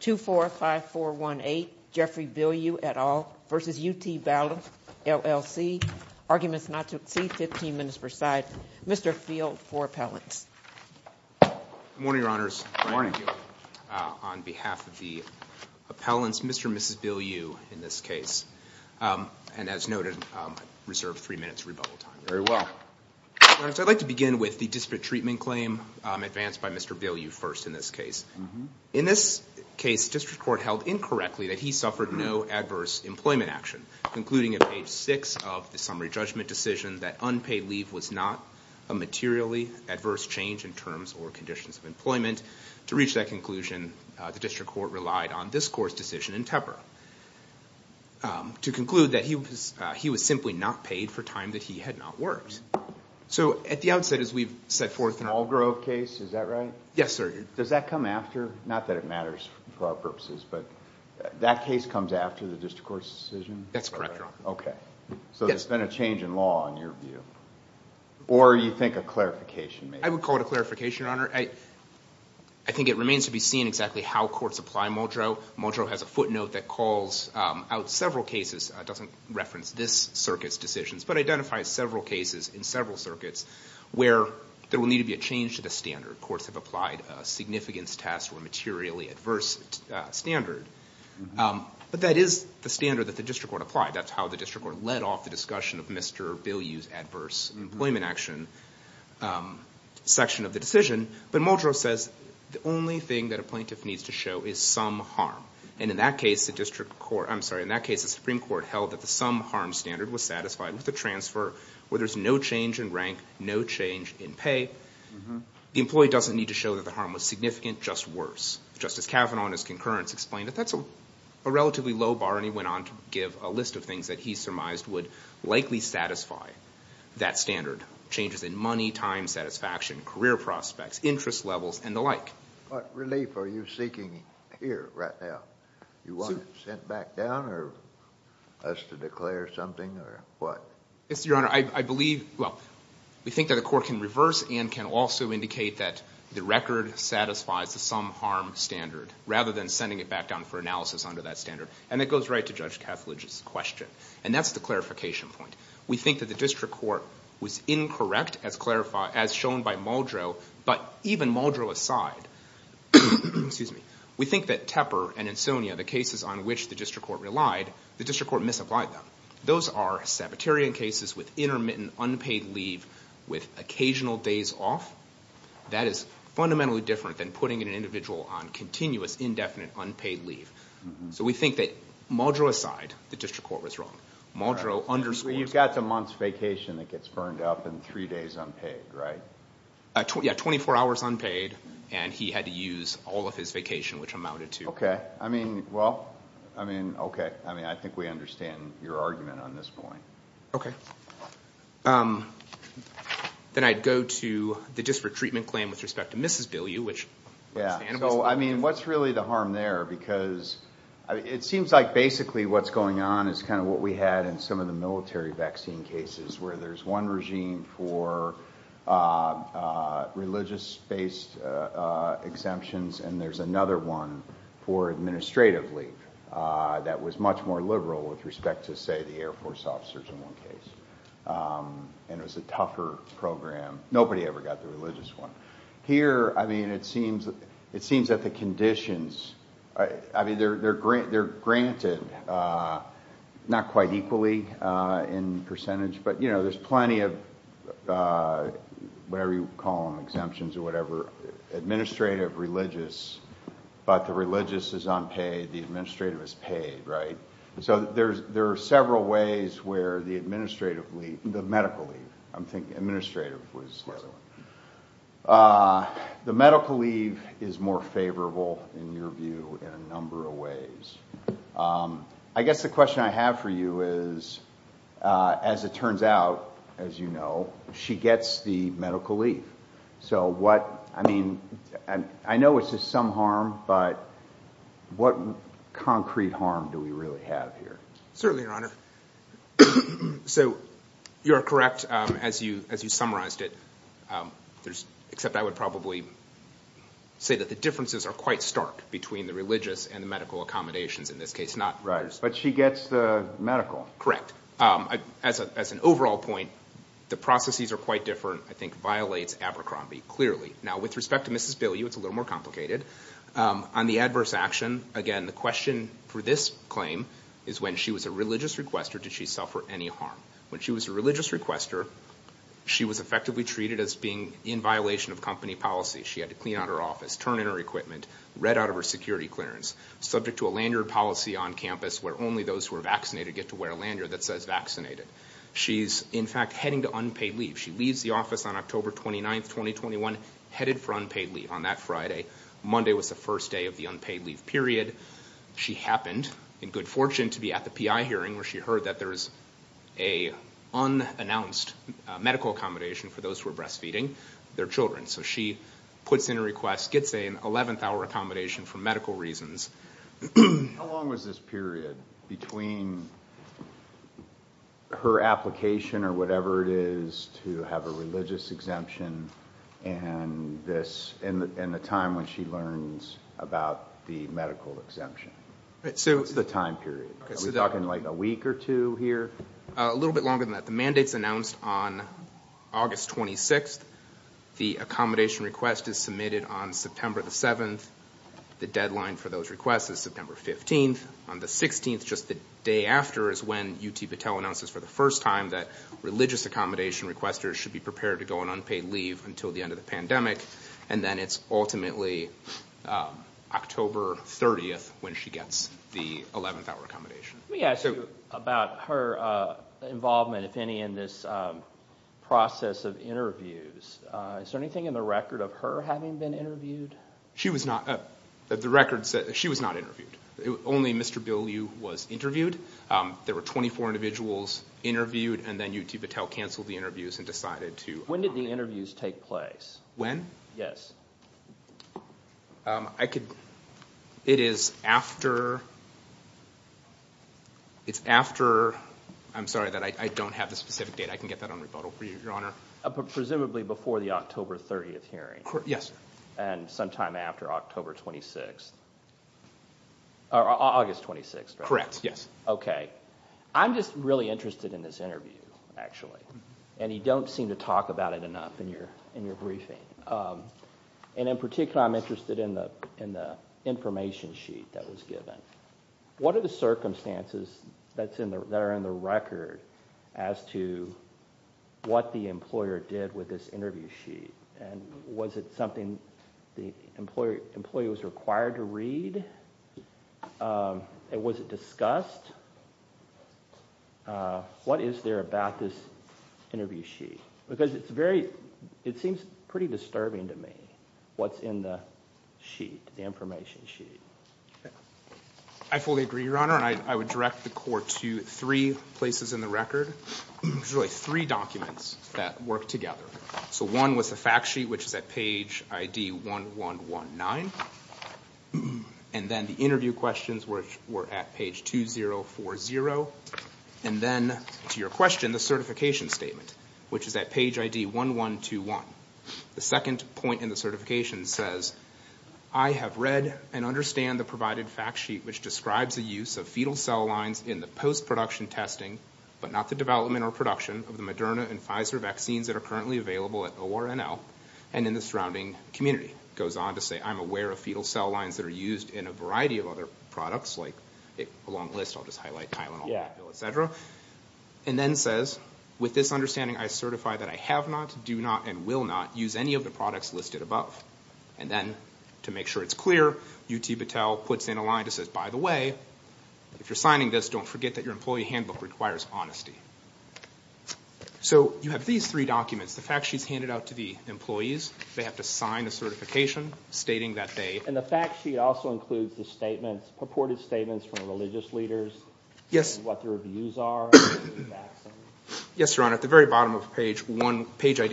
245418 Jeffrey Bilyeu et al. versus UT-Battelle LLC. Arguments not to exceed 15 minutes per side. Mr. Field for appellants. Good morning, Your Honors. Good morning. On behalf of the appellants, Mr. and Mrs. Bilyeu in this case, and as noted, reserved three minutes rebuttal time. Very well. I'd like to begin with the disparate treatment claim advanced by Mr. Bilyeu first in this case. In this case, district court held incorrectly that he suffered no adverse employment action, concluding at page 6 of the summary judgment decision that unpaid leave was not a materially adverse change in terms or conditions of employment. To reach that conclusion, the district court relied on this court's decision in Tepper to conclude that he was he was simply not paid for time that he had not worked. So at the outset, as we've set forth in the Algrove case, is that right? Yes, sir. Does that come after, not that it matters for our purposes, but that case comes after the district court's decision? That's correct, Your Honor. Okay, so it's been a change in law in your view, or you think a clarification? I would call it a clarification, Your Honor. I think it remains to be seen exactly how courts apply Muldrow. Muldrow has a footnote that calls out several cases, doesn't reference this circuit's decisions, but identifies several cases in several circuits where there will need to be a change to the standard. Courts have applied a significance test or materially adverse standard, but that is the standard that the district court applied. That's how the district court led off the discussion of Mr. Bilyeu's adverse employment action section of the decision. But Muldrow says the only thing that a plaintiff needs to show is some harm, and in that case the district court, I'm sorry, in that case the Supreme Court held that the some harm standard was satisfied with a transfer where there's no change in rank, no change in pay. The employee doesn't need to show that the harm was significant, just worse. Justice Kavanaugh in his concurrence explained that that's a relatively low bar, and he went on to give a list of things that he surmised would likely satisfy that standard. Changes in money, time, satisfaction, career prospects, interest levels, and the like. What relief are you seeking here right now? You want it sent back down, or us to declare something, or what? Yes, Your Honor. I believe, well, we think that the court can reverse and can also indicate that the record satisfies the some harm standard, rather than sending it back down for analysis under that standard. And that goes right to Judge Kethledge's question. And that's the clarification point. We think that the district court was incorrect as shown by Muldrow, but even Muldrow aside, we think that Tepper and Insonia, the cases on which the district court relied, the district court relied, are Sabbaterian cases with intermittent unpaid leave, with occasional days off. That is fundamentally different than putting an individual on continuous indefinite unpaid leave. So we think that Muldrow aside, the district court was wrong. Muldrow underscores... So you've got the month's vacation that gets burned up and three days unpaid, right? Yeah, 24 hours unpaid, and he had to use all of his vacation, which amounted to... Okay. I mean, well, I mean, okay. I mean, I think we understand your argument on this point. Okay. Then I'd go to the district treatment claim with respect to Mrs. Bilyeu, which... Yeah. So, I mean, what's really the harm there? Because it seems like basically what's going on is kind of what we had in some of the military vaccine cases, where there's one regime for religious-based exemptions, and there's another one for administrative leave that was much more liberal with respect to, say, the Air Force officers in one case. And it was a tougher program. Nobody ever got the religious one. Here, I mean, it seems that the conditions... I mean, they're granted, not quite equally in percentage, but there's plenty of whatever you call them, exemptions or whatever, administrative, religious, but the religious is unpaid, the administrative is paid, right? So there are several ways where the administrative leave... the medical leave. I'm thinking administrative was... The medical leave is more favorable, in your view, in a number of ways. I guess the question I have for you is, as it turns out, as you know, she gets the medical leave. So what... I mean, I know it's just some harm, but what concrete harm do we really have here? Certainly, Your Honor. So you're correct, as you summarized it, there's... except I would probably say that the differences are quite stark between the religious and the medical accommodations in this case, not... Right. But she gets the medical. Correct. As an overall point, the processes are quite different, I think, violates Abercrombie, clearly. Now, with respect to Mrs. Bilyeu, it's a little more complicated. On the adverse action, again, the question for this claim is when she was a religious requester, did she suffer any harm? When she was a religious requester, she was effectively treated as being in violation of company policy. She had to clean out her office, turn in her equipment, read out of her security clearance, subject to a lanyard policy on campus where only those who are vaccinated get to wear a lanyard that says vaccinated. She's, in fact, heading to unpaid leave. She leaves the office on October 29th, 2021, headed for unpaid leave on that Friday. Monday was the first day of the unpaid leave period. She happened, in good fortune, to be at the PI hearing where she heard that there's an unannounced medical accommodation for those who are breastfeeding their children. So she puts in a request, gets an 11th hour accommodation for medical reasons. How long was this period between her application, or whatever it is, to have a religious exemption and this... and the time when she learns about the medical exemption? What's the time period? Are we talking like a week or two here? A little bit longer than that. The mandate's announced on August 26th. The accommodation request is submitted on September the 7th. The deadline for those requests is September 15th. On the 16th, just the day after, is when UT Battelle announces for the first time that religious accommodation requesters should be prepared to go on unpaid leave until the end of the pandemic. And then it's ultimately October 30th when she gets the 11th hour accommodation. Let me ask you about her involvement, if any, in this process of interviews. Is there anything in the record of her having been interviewed? She was not... the record said that she was not interviewed. Only Mr. Bill Liu was interviewed. There were 24 individuals interviewed, and then UT took place. When? Yes. I could... it is after... it's after... I'm sorry that I don't have the specific date. I can get that on rebuttal for you, Your Honor. Presumably before the October 30th hearing. Yes, sir. And sometime after October 26th... or August 26th, correct? Correct, yes. Okay. I'm just really interested in this interview, actually. And you don't seem to talk about it enough in your briefing. And in particular, I'm interested in the information sheet that was given. What are the circumstances that are in the record as to what the employer did with this interview sheet? And was it something the employee was required to read? And was it discussed? What is there about this interview sheet? Because it's very... it seems pretty disturbing to me, what's in the sheet, the information sheet. I fully agree, Your Honor. And I would direct the court to three places in the record. There's really three documents that work together. So one was the fact sheet, which is at page ID 1119. And then the interview questions, which were at page 2040. And then, to your question, the certification statement, which is at page ID 1121. The second point in the certification says, I have read and understand the provided fact sheet, which describes the use of fetal cell lines in the post-production testing, but not the development or production of the Moderna and Pfizer vaccines that are currently available at ORNL and in the surrounding community. It goes on to say, I'm aware of fetal cell lines that are used in a variety of other products, like... a long list, I'll just highlight Tylenol, etc. And then says, with this understanding, I certify that I have not, do not, and will not use any of the products listed above. And then, to make sure it's clear, UT Battelle puts in a line that says, by the way, if you're signing this, don't forget that your employee handbook requires honesty. So you have these three documents. The fact sheet's handed out to the employees. They have to sign a certification stating that they... And the fact sheet also includes the statements, purported statements from religious leaders. Yes. What their views are on the vaccine. Yes, Your Honor. At the very bottom of page ID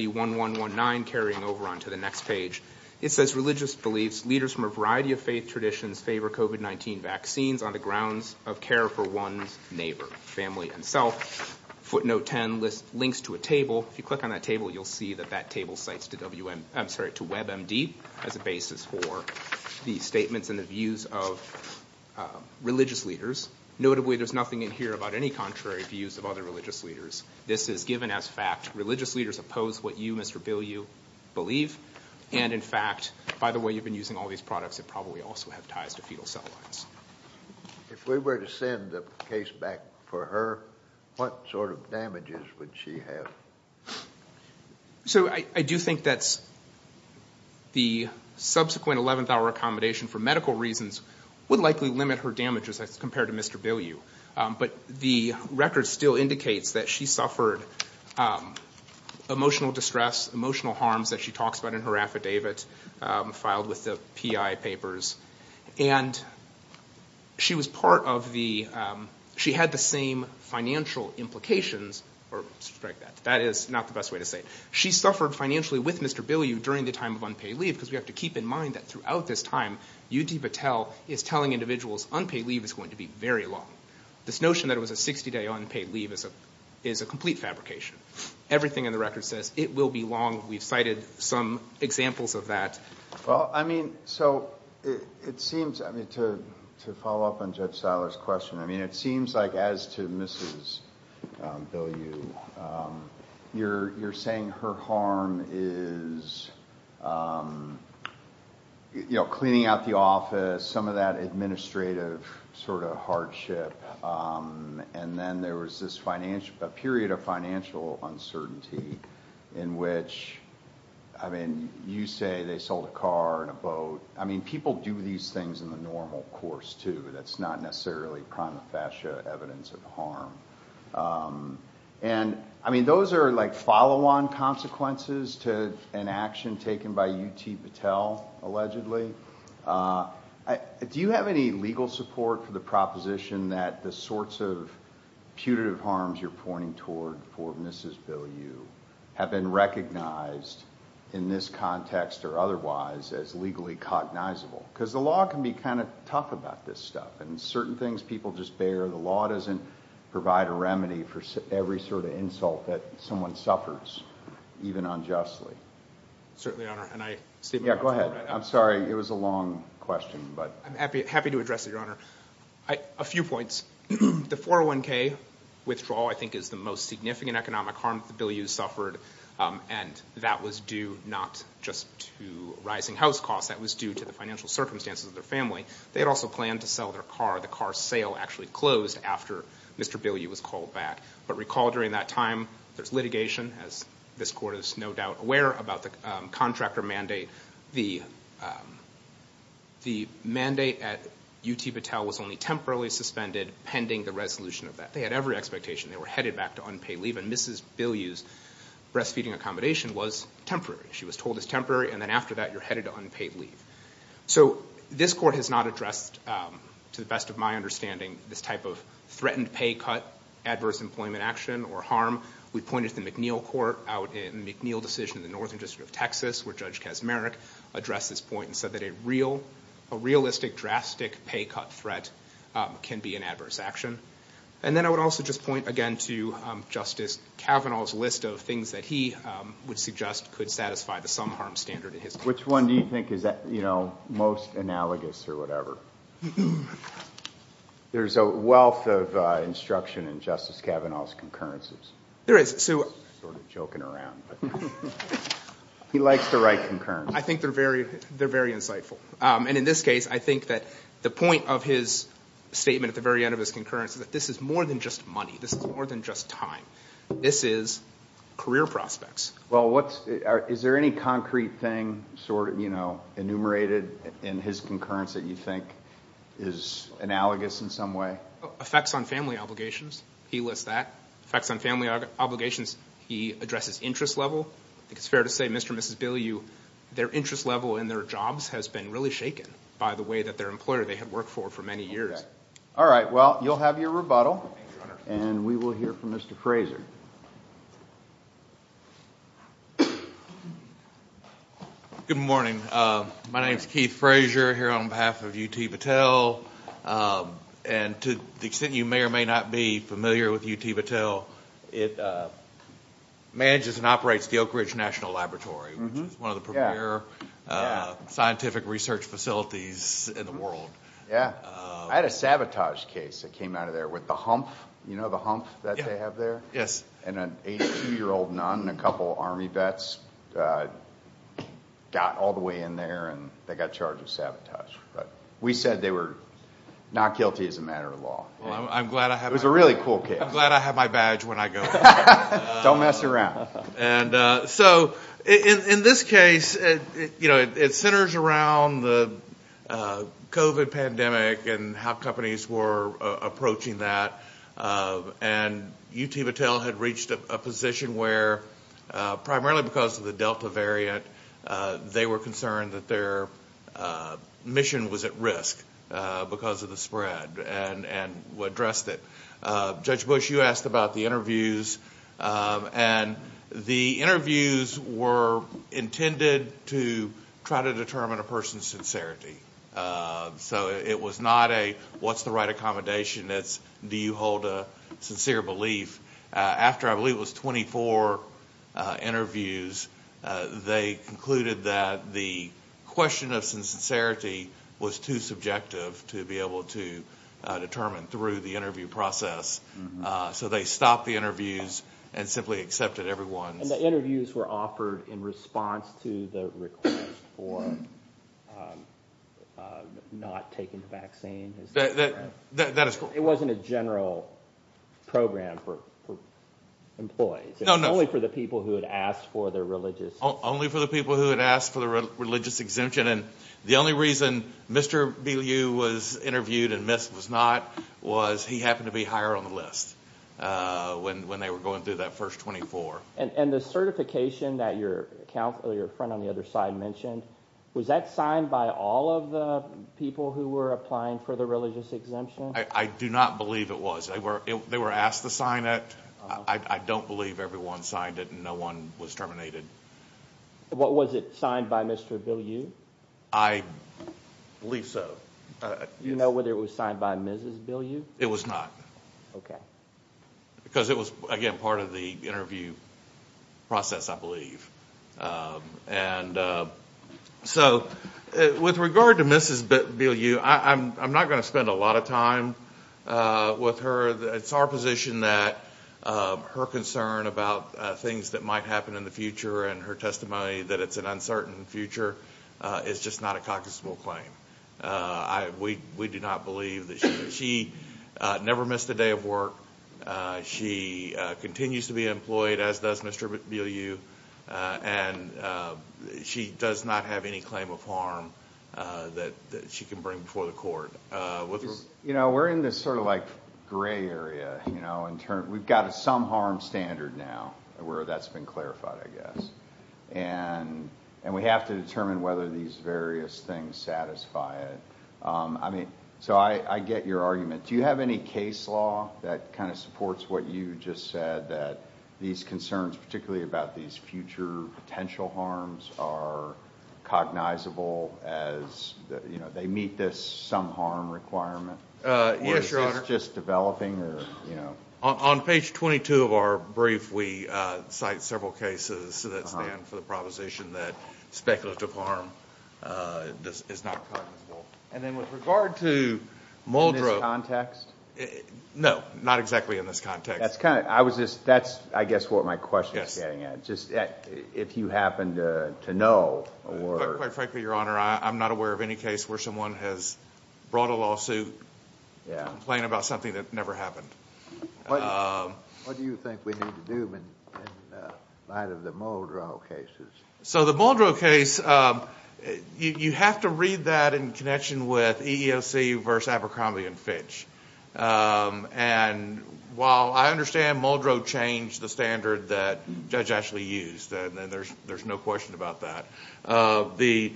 1119, carrying over onto the next page, it says, religious beliefs, leaders from a variety of faith traditions favor COVID-19 vaccines on the grounds of care for one's neighbor, family, and self. Footnote 10 lists links to a table. If you click on that table, you'll see that that table cites to WebMD as a basis for the statements and the views of religious leaders. Notably, there's nothing in here about any contrary views of other religious leaders. This is given as fact. Religious leaders oppose what you, Mr. Bilyeu, believe. And, in fact, by the way, you've been using all these products that probably also have ties to fetal cell lines. If we were to send the case back for her, what sort of damages would she have? So, I do think that the subsequent 11th hour accommodation for medical reasons would likely limit her damages as compared to Mr. Bilyeu. But the record still indicates that she suffered emotional distress, emotional harms that she talks about in her affidavit filed with the PI papers. And she was part of the, she had the same financial implications, that is not the best way to say it. She suffered financially with Mr. Bilyeu during the time of unpaid leave because we have to keep in mind that throughout this time, UD Patel is telling individuals unpaid leave is going to be very long. This notion that it was a 60-day unpaid leave is a complete fabrication. Everything in the record says it will be long. We've cited some examples of that. Well, I mean, so it seems, I mean, to follow up on Judge Seiler's question, I mean, it seems like as to Mrs. Bilyeu, you're saying her harm is, you know, cleaning out the office, some of that administrative sort of hardship. And then there was this financial, a period of financial uncertainty in which, I mean, you say they sold a car and a boat. I mean, people do these things in the normal course, too. That's not necessarily prima facie evidence of harm. And I mean, those are like follow-on consequences to an action taken by UT Patel allegedly. Do you have any legal support for the proposition that the sorts of putative harms you're pointing toward for Mrs. Bilyeu have been recognized in this context or otherwise as legally cognizable? Because the law can be kind of tough about this stuff. And certain things people just bear. The law doesn't provide a remedy for every sort of insult that someone suffers, even unjustly. Certainly, Your Honor. And I see... Yeah, go ahead. I'm sorry. It was a long question, but... I'm happy to address it, Your Honor. A few points. The 401K withdrawal, I think, is the most significant economic harm that the Bilyeus suffered. And that was due not just to rising house costs. That was due to the financial circumstances of their family. They had also planned to sell their car. The car sale actually closed after Mr. Bilyeu was called back. But recall during that time, there's litigation, as this Court is no doubt aware, about the contractor mandate. The mandate at UT Battelle was only temporarily suspended pending the resolution of that. They had every expectation. They were headed back to unpaid leave. And Mrs. Bilyeu's breastfeeding accommodation was temporary. She was told it's temporary. And then after that, you're headed to unpaid leave. So this Court has not addressed, to the best of my understanding, this type of threatened pay cut, adverse employment action, or harm. We pointed to the McNeil Court out in McNeil decision in the Northern District of Texas, where Judge Kaczmarek addressed this point and said that a realistic, drastic pay cut threat can be an adverse action. And then I would also just point, again, to Justice Kavanaugh's list of things that he would suggest could satisfy the sum harm standard in his case. Which one do you think is most analogous or whatever? There's a wealth of instruction in Justice Kavanaugh's concurrences. There is. I'm sort of joking around. He likes the right concurrence. I think they're very insightful. And in this case, I think that the point of his statement at the very end of his concurrence is that this is more than just money. This is more than just time. This is career prospects. Is there any concrete thing enumerated in his concurrence that you think is analogous in some way? Effects on family obligations. He lists that. Effects on family obligations, he addresses interest level. I think it's fair to say, Mr. and Mrs. Bilyeu, their interest level in their jobs has been really shaken by the way that their employer they have worked for for many years. Okay. All right. Well, you'll have your rebuttal. And we will hear from Mr. Frazer. Good morning. My name is Keith Frazer here on behalf of UT Battelle. And to the extent you may or may not be familiar with UT Battelle, it manages and operates the Oak Ridge National Laboratory, which is one of the premier scientific research facilities in the world. Yeah. I had a sabotage case that came out of there with the hump, you know, the hump that they have there? Yes. And an 82-year-old nun and a couple of Army vets got all the way in there and they got charged with sabotage. But we said they were not guilty as a matter of law. Well, I'm glad I have my badge when I go there. Don't mess around. And so in this case, you know, it centers around the COVID pandemic and how companies were approaching that. And UT Battelle had reached a position where primarily because of the Delta variant, they were concerned that their mission was at risk because of the spread and addressed it. Judge Bush, you asked about the interviews. And the interviews were intended to try to determine a person's sincerity. So it was not a, what's the right accommodation? It's, do you hold a sincere belief? After, I believe it was 24 interviews, they concluded that the question of sincerity was too subjective to be able to determine through the interview process. So they stopped the interviews and simply accepted everyone's... The interviews were offered in response to the request for not taking the vaccine. That is correct. It wasn't a general program for employees. It was only for the people who had asked for their religious... Only for the people who had asked for the religious exemption. And the only reason Mr. Beale was interviewed and Miss was not, was he happened to be higher on the list when they were going through that first 24. And the certification that your friend on the other side mentioned, was that signed by all of the people who were applying for the religious exemption? I do not believe it was. They were asked to sign it. I don't believe everyone signed it and no one was terminated. What was it signed by Mr. Beale, you? I believe so. You know whether it was signed by Mrs. Beale, you? It was not. Okay. Because it was, again, part of the interview process, I believe. And so, with regard to Mrs. Beale, you, I'm not going to spend a lot of time with her. It's our position that her concern about things that might happen in the future and her testimony that it's an uncertain future is just not a cognizable claim. We do not believe that she never missed a day of work. She continues to be employed as does Mr. Beale, you. And she does not have any claim of harm that she can bring before the court. You know, we're in this sort of like gray area, you know, in terms, we've got a some harm standard now where that's been clarified, I guess. And we have to determine whether these various things satisfy it. I mean, so I get your argument. Do you have any case law that kind of supports what you just said that these concerns, particularly about these future potential harms, are cognizable as, you know, they meet this some harm requirement? Yes, Your Honor. Or is this just developing or, you know? On page 22 of our brief, we cite several cases that stand for the proposition that speculative harm is not cognizable. And then with regard to Muldrow... No, not exactly in this context. That's kind of, I was just, that's, I guess, what my question is getting at, just if you happen to know or... Quite frankly, Your Honor, I'm not aware of any case where someone has brought a lawsuit to complain about something that never happened. What do you think we need to do in light of the Muldrow cases? So the Muldrow case, you have to read that in connection with EEOC versus Abercrombie and Fitch. And while I understand Muldrow changed the standard that Judge Ashley used, and there's no question about that, the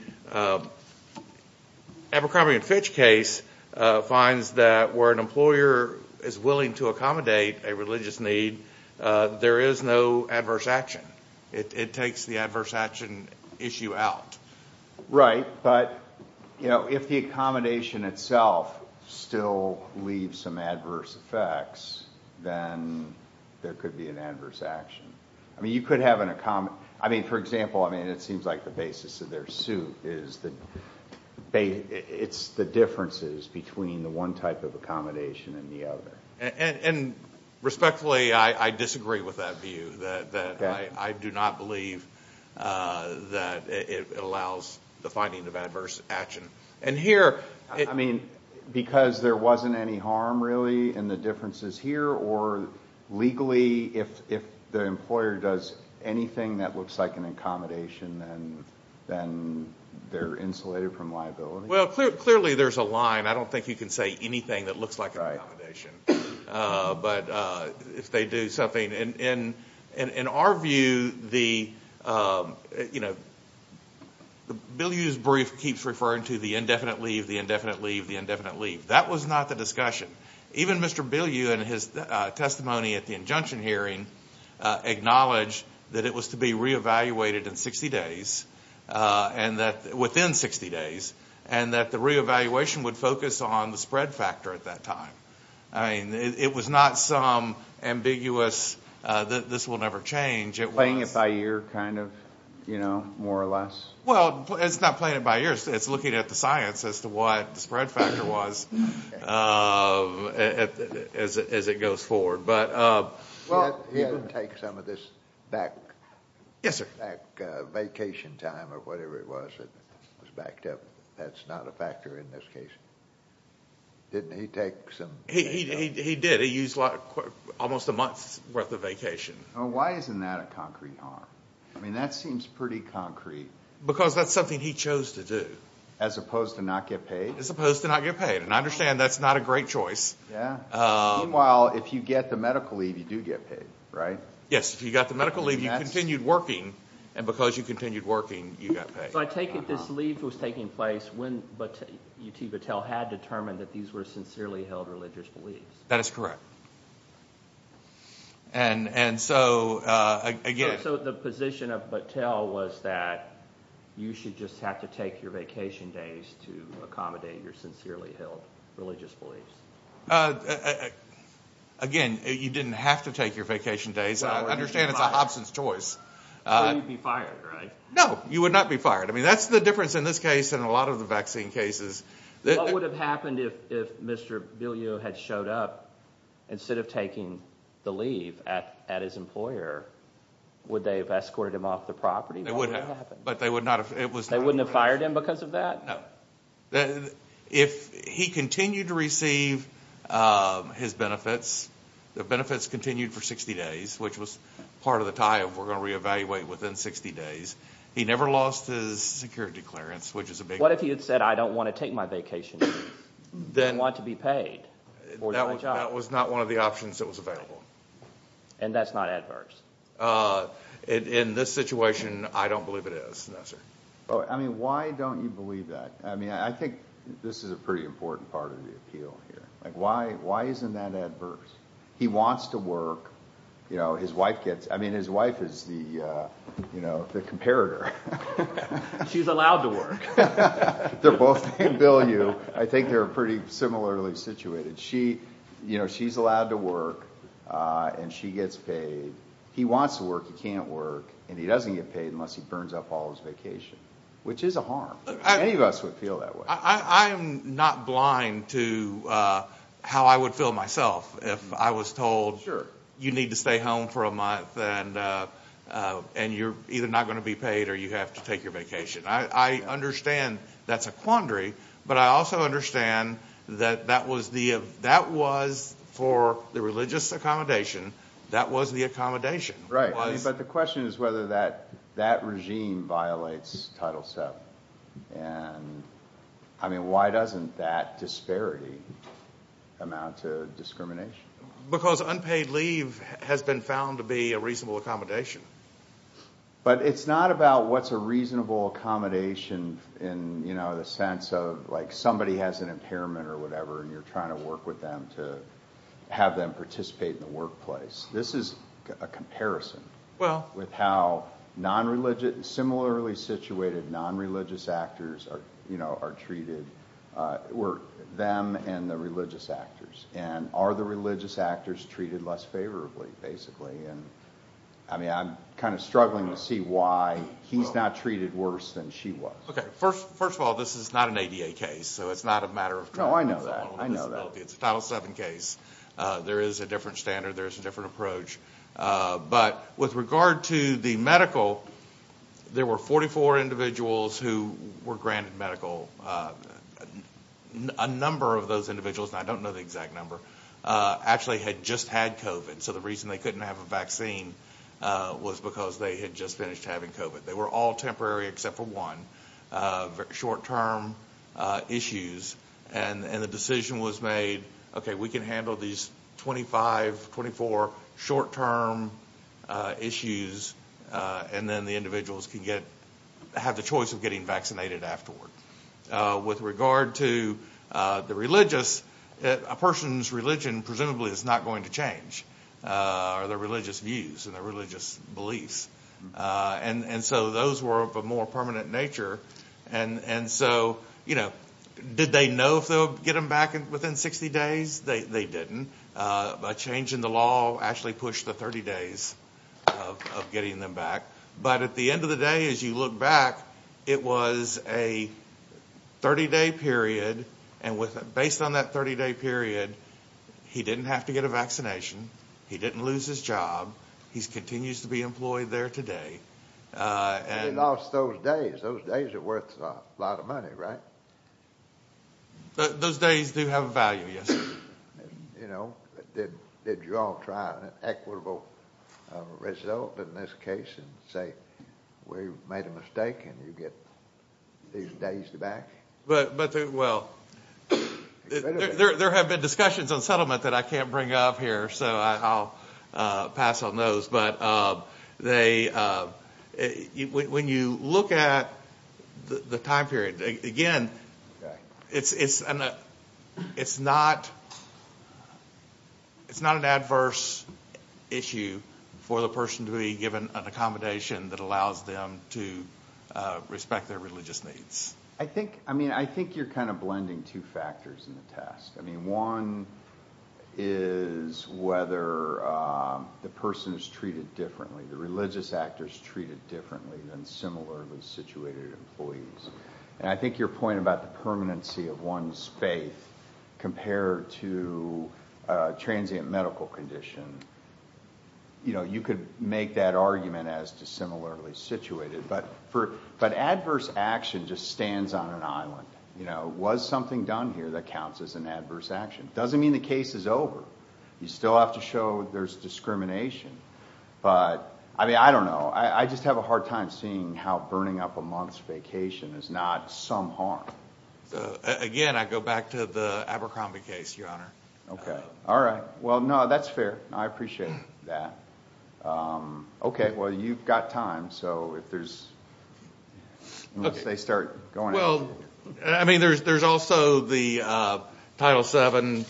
Abercrombie and Fitch case finds that where an employer is willing to accommodate a religious need, there is no adverse action. It takes the adverse action issue out. Right. But, you know, if the accommodation itself still leaves some adverse effects, then there could be an adverse action. I mean, you could have an... I mean, for example, I mean, it seems like the basis of their suit is the, it's the differences between the one type of accommodation and the other. And respectfully, I disagree with that view, that I do not believe that it allows the finding of adverse action. And here... I mean, because there wasn't any harm, really, in the differences here, or legally, if the employer does anything that looks like an accommodation, then they're insulated from liability? Well, clearly, there's a line. I don't think you can say anything that looks like an accommodation. But if they do something... and in our view, the, you know, Bill Yu's brief keeps referring to the indefinite leave, the indefinite leave, the indefinite leave. That was not the discussion. Even Mr. Bill Yu, in his testimony at the injunction hearing, acknowledged that it was to be re-evaluated in 60 days, and that... within 60 days, and that the re-evaluation would focus on the spread factor at that time. I mean, it was not some ambiguous, this will never change. It was... Playing it by ear, kind of, you know, more or less? Well, it's not playing it by ear. It's looking at the science as to what the spread factor was, as it goes forward. But... Well, he had to take some of this back... Yes, sir.... back vacation time, or whatever it was that was backed up. That's not a factor in this case. Didn't he take some... He did. He used almost a month's worth of vacation. Why isn't that a concrete harm? I mean, that seems pretty concrete. Because that's something he chose to do. As opposed to not get paid? As opposed to not get paid. And I understand that's not a great choice. Yeah. Meanwhile, if you get the medical leave, you do get paid, right? Yes. If you got the medical leave, you continued working, and because you continued working, you got paid. So I take it this leave was taking place when U.T. Battelle had determined that these were sincerely held religious beliefs. That is correct. And so, again... You should just have to take your vacation days to accommodate your sincerely held religious beliefs. Again, you didn't have to take your vacation days. I understand it's a Hobson's choice. So you'd be fired, right? No. You would not be fired. I mean, that's the difference in this case and a lot of the vaccine cases. What would have happened if Mr. Biliot had showed up, instead of taking the leave at his employer, would they have escorted him off the property? They would have. But they would not have... They wouldn't have fired him because of that? No. If he continued to receive his benefits, the benefits continued for 60 days, which was part of the tie of we're going to re-evaluate within 60 days. He never lost his security clearance, which is a big... What if he had said, I don't want to take my vacation, I want to be paid for my job? That was not one of the options that was available. And that's not adverse? In this situation, I don't believe it is, no, sir. Why don't you believe that? I think this is a pretty important part of the appeal here. Why isn't that adverse? He wants to work. His wife gets... I mean, his wife is the comparator. She's allowed to work. If they're both named Biliot, I think they're pretty similarly situated. She's allowed to work, and she gets paid. He wants to work, he can't work, and he doesn't get paid unless he burns up all his vacation, which is a harm. Many of us would feel that way. I am not blind to how I would feel myself if I was told you need to stay home for a month and you're either not going to be paid or you have to take your vacation. I understand that's a quandary, but I also understand that that was for the religious accommodation. That was the accommodation. Right. But the question is whether that regime violates Title VII. Why doesn't that disparity amount to discrimination? Because unpaid leave has been found to be a reasonable accommodation. But it's not about what's a reasonable accommodation in the sense of somebody has an impairment or whatever and you're trying to work with them to have them participate in the workplace. This is a comparison with how similarly situated non-religious actors are treated, or them and the religious actors. Are the religious actors treated less favorably, basically? I mean, I'm kind of struggling to see why he's not treated worse than she was. Okay. First of all, this is not an ADA case, so it's not a matter of- No, I know that. I know that. It's a Title VII case. There is a different standard. There is a different approach. But with regard to the medical, there were 44 individuals who were granted medical. A number of those individuals, and I don't know the exact number, actually had just had COVID. So the reason they couldn't have a vaccine was because they had just finished having COVID. They were all temporary except for one, short-term issues. And the decision was made, okay, we can handle these 25, 24 short-term issues, and then the individuals can have the choice of getting vaccinated afterward. With regard to the religious, a person's religion presumably is not going to change, or their religious views and their religious beliefs. And so those were of a more permanent nature. And so, you know, did they know if they'll get them back within 60 days? They didn't. A change in the law actually pushed the 30 days of getting them back. But at the end of the day, as you look back, it was a 30-day period. And based on that 30-day period, he didn't have to get a vaccination. He didn't lose his job. He continues to be employed there today. And... He lost those days. Those days are worth a lot of money, right? Those days do have a value, yes. You know, did you all try an equitable result in this case and say, we made a mistake and you get these days back? But, well, there have been discussions on settlement that I can't bring up here, so I'll pass on those. But when you look at the time period, again, it's not an adverse issue for the person to be given an accommodation that allows them to respect their religious needs. I think, I mean, I think you're kind of blending two factors in the test. I mean, one is whether the person is treated differently, the religious actor is treated differently than similarly situated employees. I think your point about the permanency of one's faith compared to transient medical condition, you know, you could make that argument as to similarly situated. But adverse action just stands on an island. You know, was something done here that counts as an adverse action? Doesn't mean the case is over. You still have to show there's discrimination, but, I mean, I don't know. I just have a hard time seeing how burning up a month's vacation is not some harm. Again, I go back to the Abercrombie case, Your Honor. Okay. All right. Well, no, that's fair. I appreciate that. Okay. Well, you've got time, so if there's... Okay. Well, I mean, there's also the Title VII,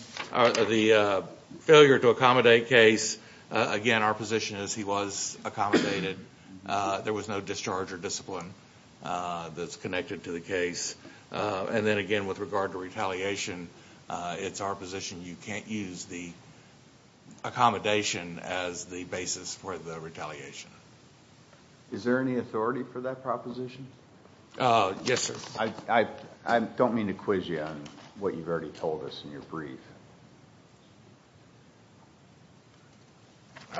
the failure to accommodate case. Again, our position is he was accommodated. There was no discharge or discipline that's connected to the case. And then, again, with regard to retaliation, it's our position you can't use the accommodation as the basis for the retaliation. Is there any authority for that proposition? Yes, sir. I don't mean to quiz you on what you've already told us in your brief.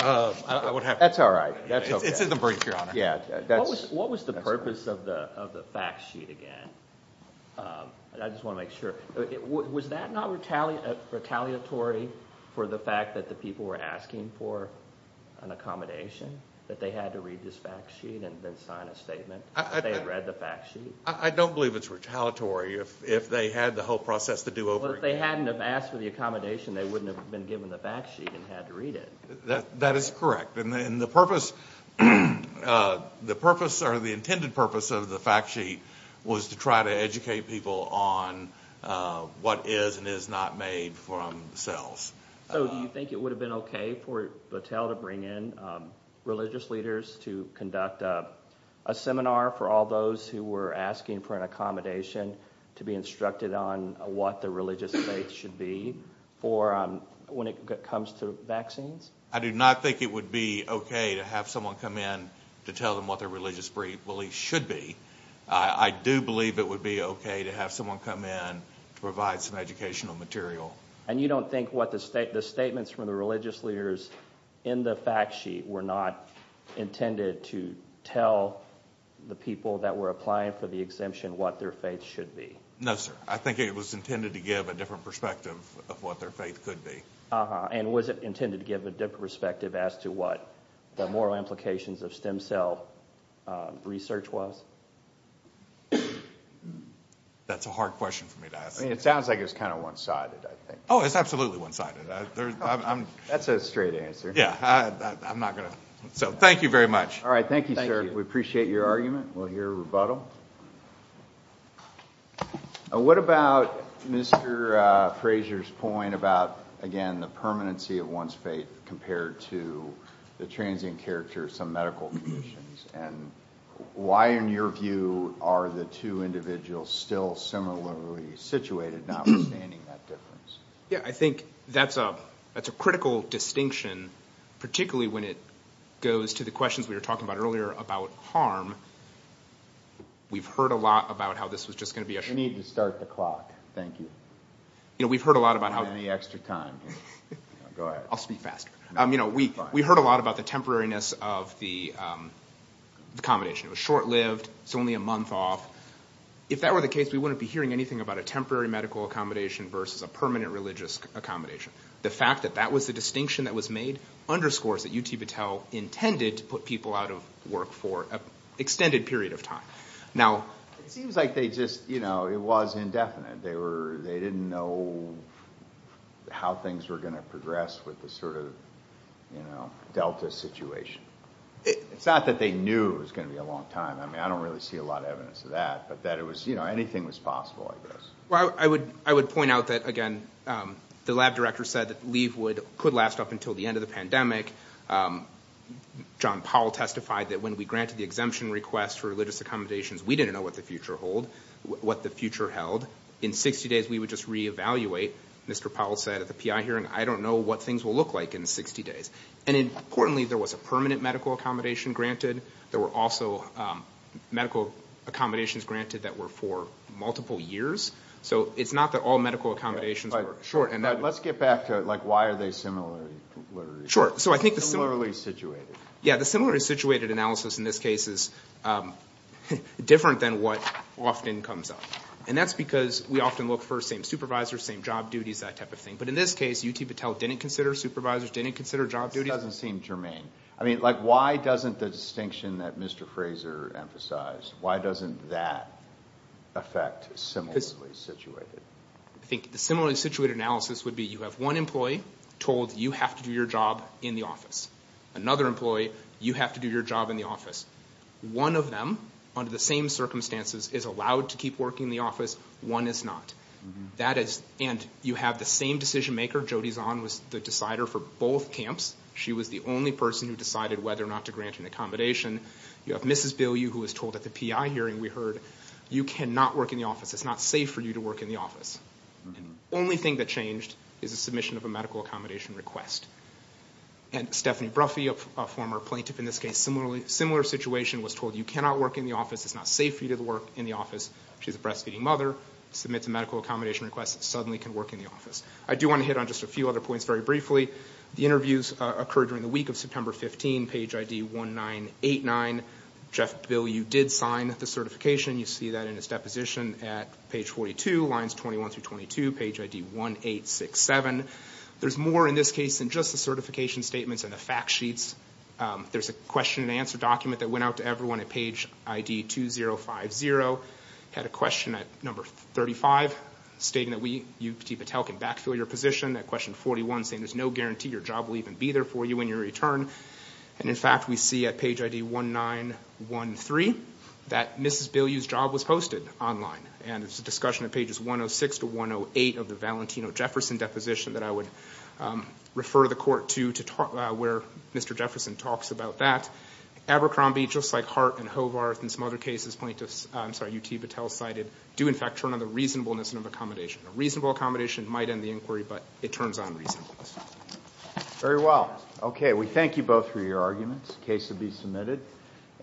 I would have to. That's all right. It's in the brief, Your Honor. Yeah. What was the purpose of the fact sheet again? I just want to make sure. Was that not retaliatory for the fact that the people were asking for an accommodation, that they had to read this fact sheet and then sign a statement? I don't believe it's retaliatory if they had the whole process to do over again. Well, if they hadn't have asked for the accommodation, they wouldn't have been given the fact sheet and had to read it. That is correct. And the purpose or the intended purpose of the fact sheet was to try to educate people on what is and is not made from cells. So do you think it would have been okay for Battelle to bring in religious leaders to conduct a seminar for all those who were asking for an accommodation to be instructed on what the religious faith should be for when it comes to vaccines? I do not think it would be okay to have someone come in to tell them what their religious belief should be. I do believe it would be okay to have someone come in to provide some educational material. And you don't think what the statements from the religious leaders in the fact sheet were not intended to tell the people that were applying for the exemption what their faith should be? No, sir. I think it was intended to give a different perspective of what their faith could be. And was it intended to give a different perspective as to what the moral implications of stem cell research was? That's a hard question for me to ask. It sounds like it's kind of one-sided, I think. Oh, it's absolutely one-sided. That's a straight answer. Yeah. I'm not going to. So thank you very much. All right. Thank you, sir. We appreciate your argument. We'll hear a rebuttal. What about Mr. Fraser's point about, again, the permanency of one's faith compared to the transient character of some medical conditions, and why, in your view, are the two individuals still similarly situated, not understanding that difference? Yeah. I think that's a critical distinction, particularly when it goes to the questions we were talking about earlier about harm. We've heard a lot about how this was just going to be a— You need to start the clock. Thank you. You know, we've heard a lot about how— We don't have any extra time here. Go ahead. I'll speak faster. You know, we heard a lot about the temporariness of the accommodation. It was short-lived, it's only a month off. If that were the case, we wouldn't be hearing anything about a temporary medical accommodation versus a permanent religious accommodation. The fact that that was the distinction that was made underscores that UT Battelle intended to put people out of work for an extended period of time. Now— It seems like they just, you know, it was indefinite. They didn't know how things were going to progress with the sort of, you know, delta situation. It's not that they knew it was going to be a long time. I mean, I don't really see a lot of evidence of that, but that it was, you know, anything was possible, I guess. Well, I would point out that, again, the lab director said that leave could last up until the end of the pandemic. John Powell testified that when we granted the exemption request for religious accommodations, we didn't know what the future held. In 60 days, we would just reevaluate. Mr. Powell said at the PI hearing, I don't know what things will look like in 60 days. And importantly, there was a permanent medical accommodation granted. There were also medical accommodations granted that were for multiple years. So it's not that all medical accommodations were short. Let's get back to, like, why are they similarly— Sure. So I think the— —similarly situated. Yeah, the similarly situated analysis in this case is different than what often comes up. And that's because we often look for same supervisors, same job duties, that type of thing. But in this case, UT Battelle didn't consider supervisors, didn't consider job duties. This doesn't seem germane. I mean, like, why doesn't the distinction that Mr. Fraser emphasized, why doesn't that affect similarly situated? I think the similarly situated analysis would be you have one employee told you have to do your job in the office. Another employee, you have to do your job in the office. One of them, under the same circumstances, is allowed to keep working in the office. One is not. That is—and you have the same decision-maker. Jody Zahn was the decider for both camps. She was the only person who decided whether or not to grant an accommodation. You have Mrs. Bilyeu, who was told at the PI hearing, we heard, you cannot work in the It's not safe for you to work in the office. And the only thing that changed is the submission of a medical accommodation request. And Stephanie Bruffy, a former plaintiff in this case, similar situation, was told, you cannot work in the office. It's not safe for you to work in the office. She's a breastfeeding mother, submits a medical accommodation request, suddenly can work in the office. I do want to hit on just a few other points very briefly. The interviews occurred during the week of September 15, page ID 1989. Jeff Bilyeu did sign the certification. You see that in his deposition at page 42, lines 21 through 22, page ID 1867. There's more in this case than just the certification statements and the fact sheets. There's a question-and-answer document that went out to everyone at page ID 2050, had a question at number 35, stating that you, Petit Patel, can backfill your position. That question 41, saying there's no guarantee your job will even be there for you when you return. And, in fact, we see at page ID 1913 that Mrs. Bilyeu's job was posted online. And it's a discussion at pages 106 to 108 of the Valentino-Jefferson deposition that I would refer the court to, where Mr. Jefferson talks about that. Abercrombie, just like Hart and Hovarth and some other cases plaintiffs, I'm sorry, UT Patel cited, do, in fact, turn on the reasonableness of accommodation. A reasonable accommodation might end the inquiry, but it turns on reasonableness. Very well. Okay. We thank you both for your arguments. The case will be submitted.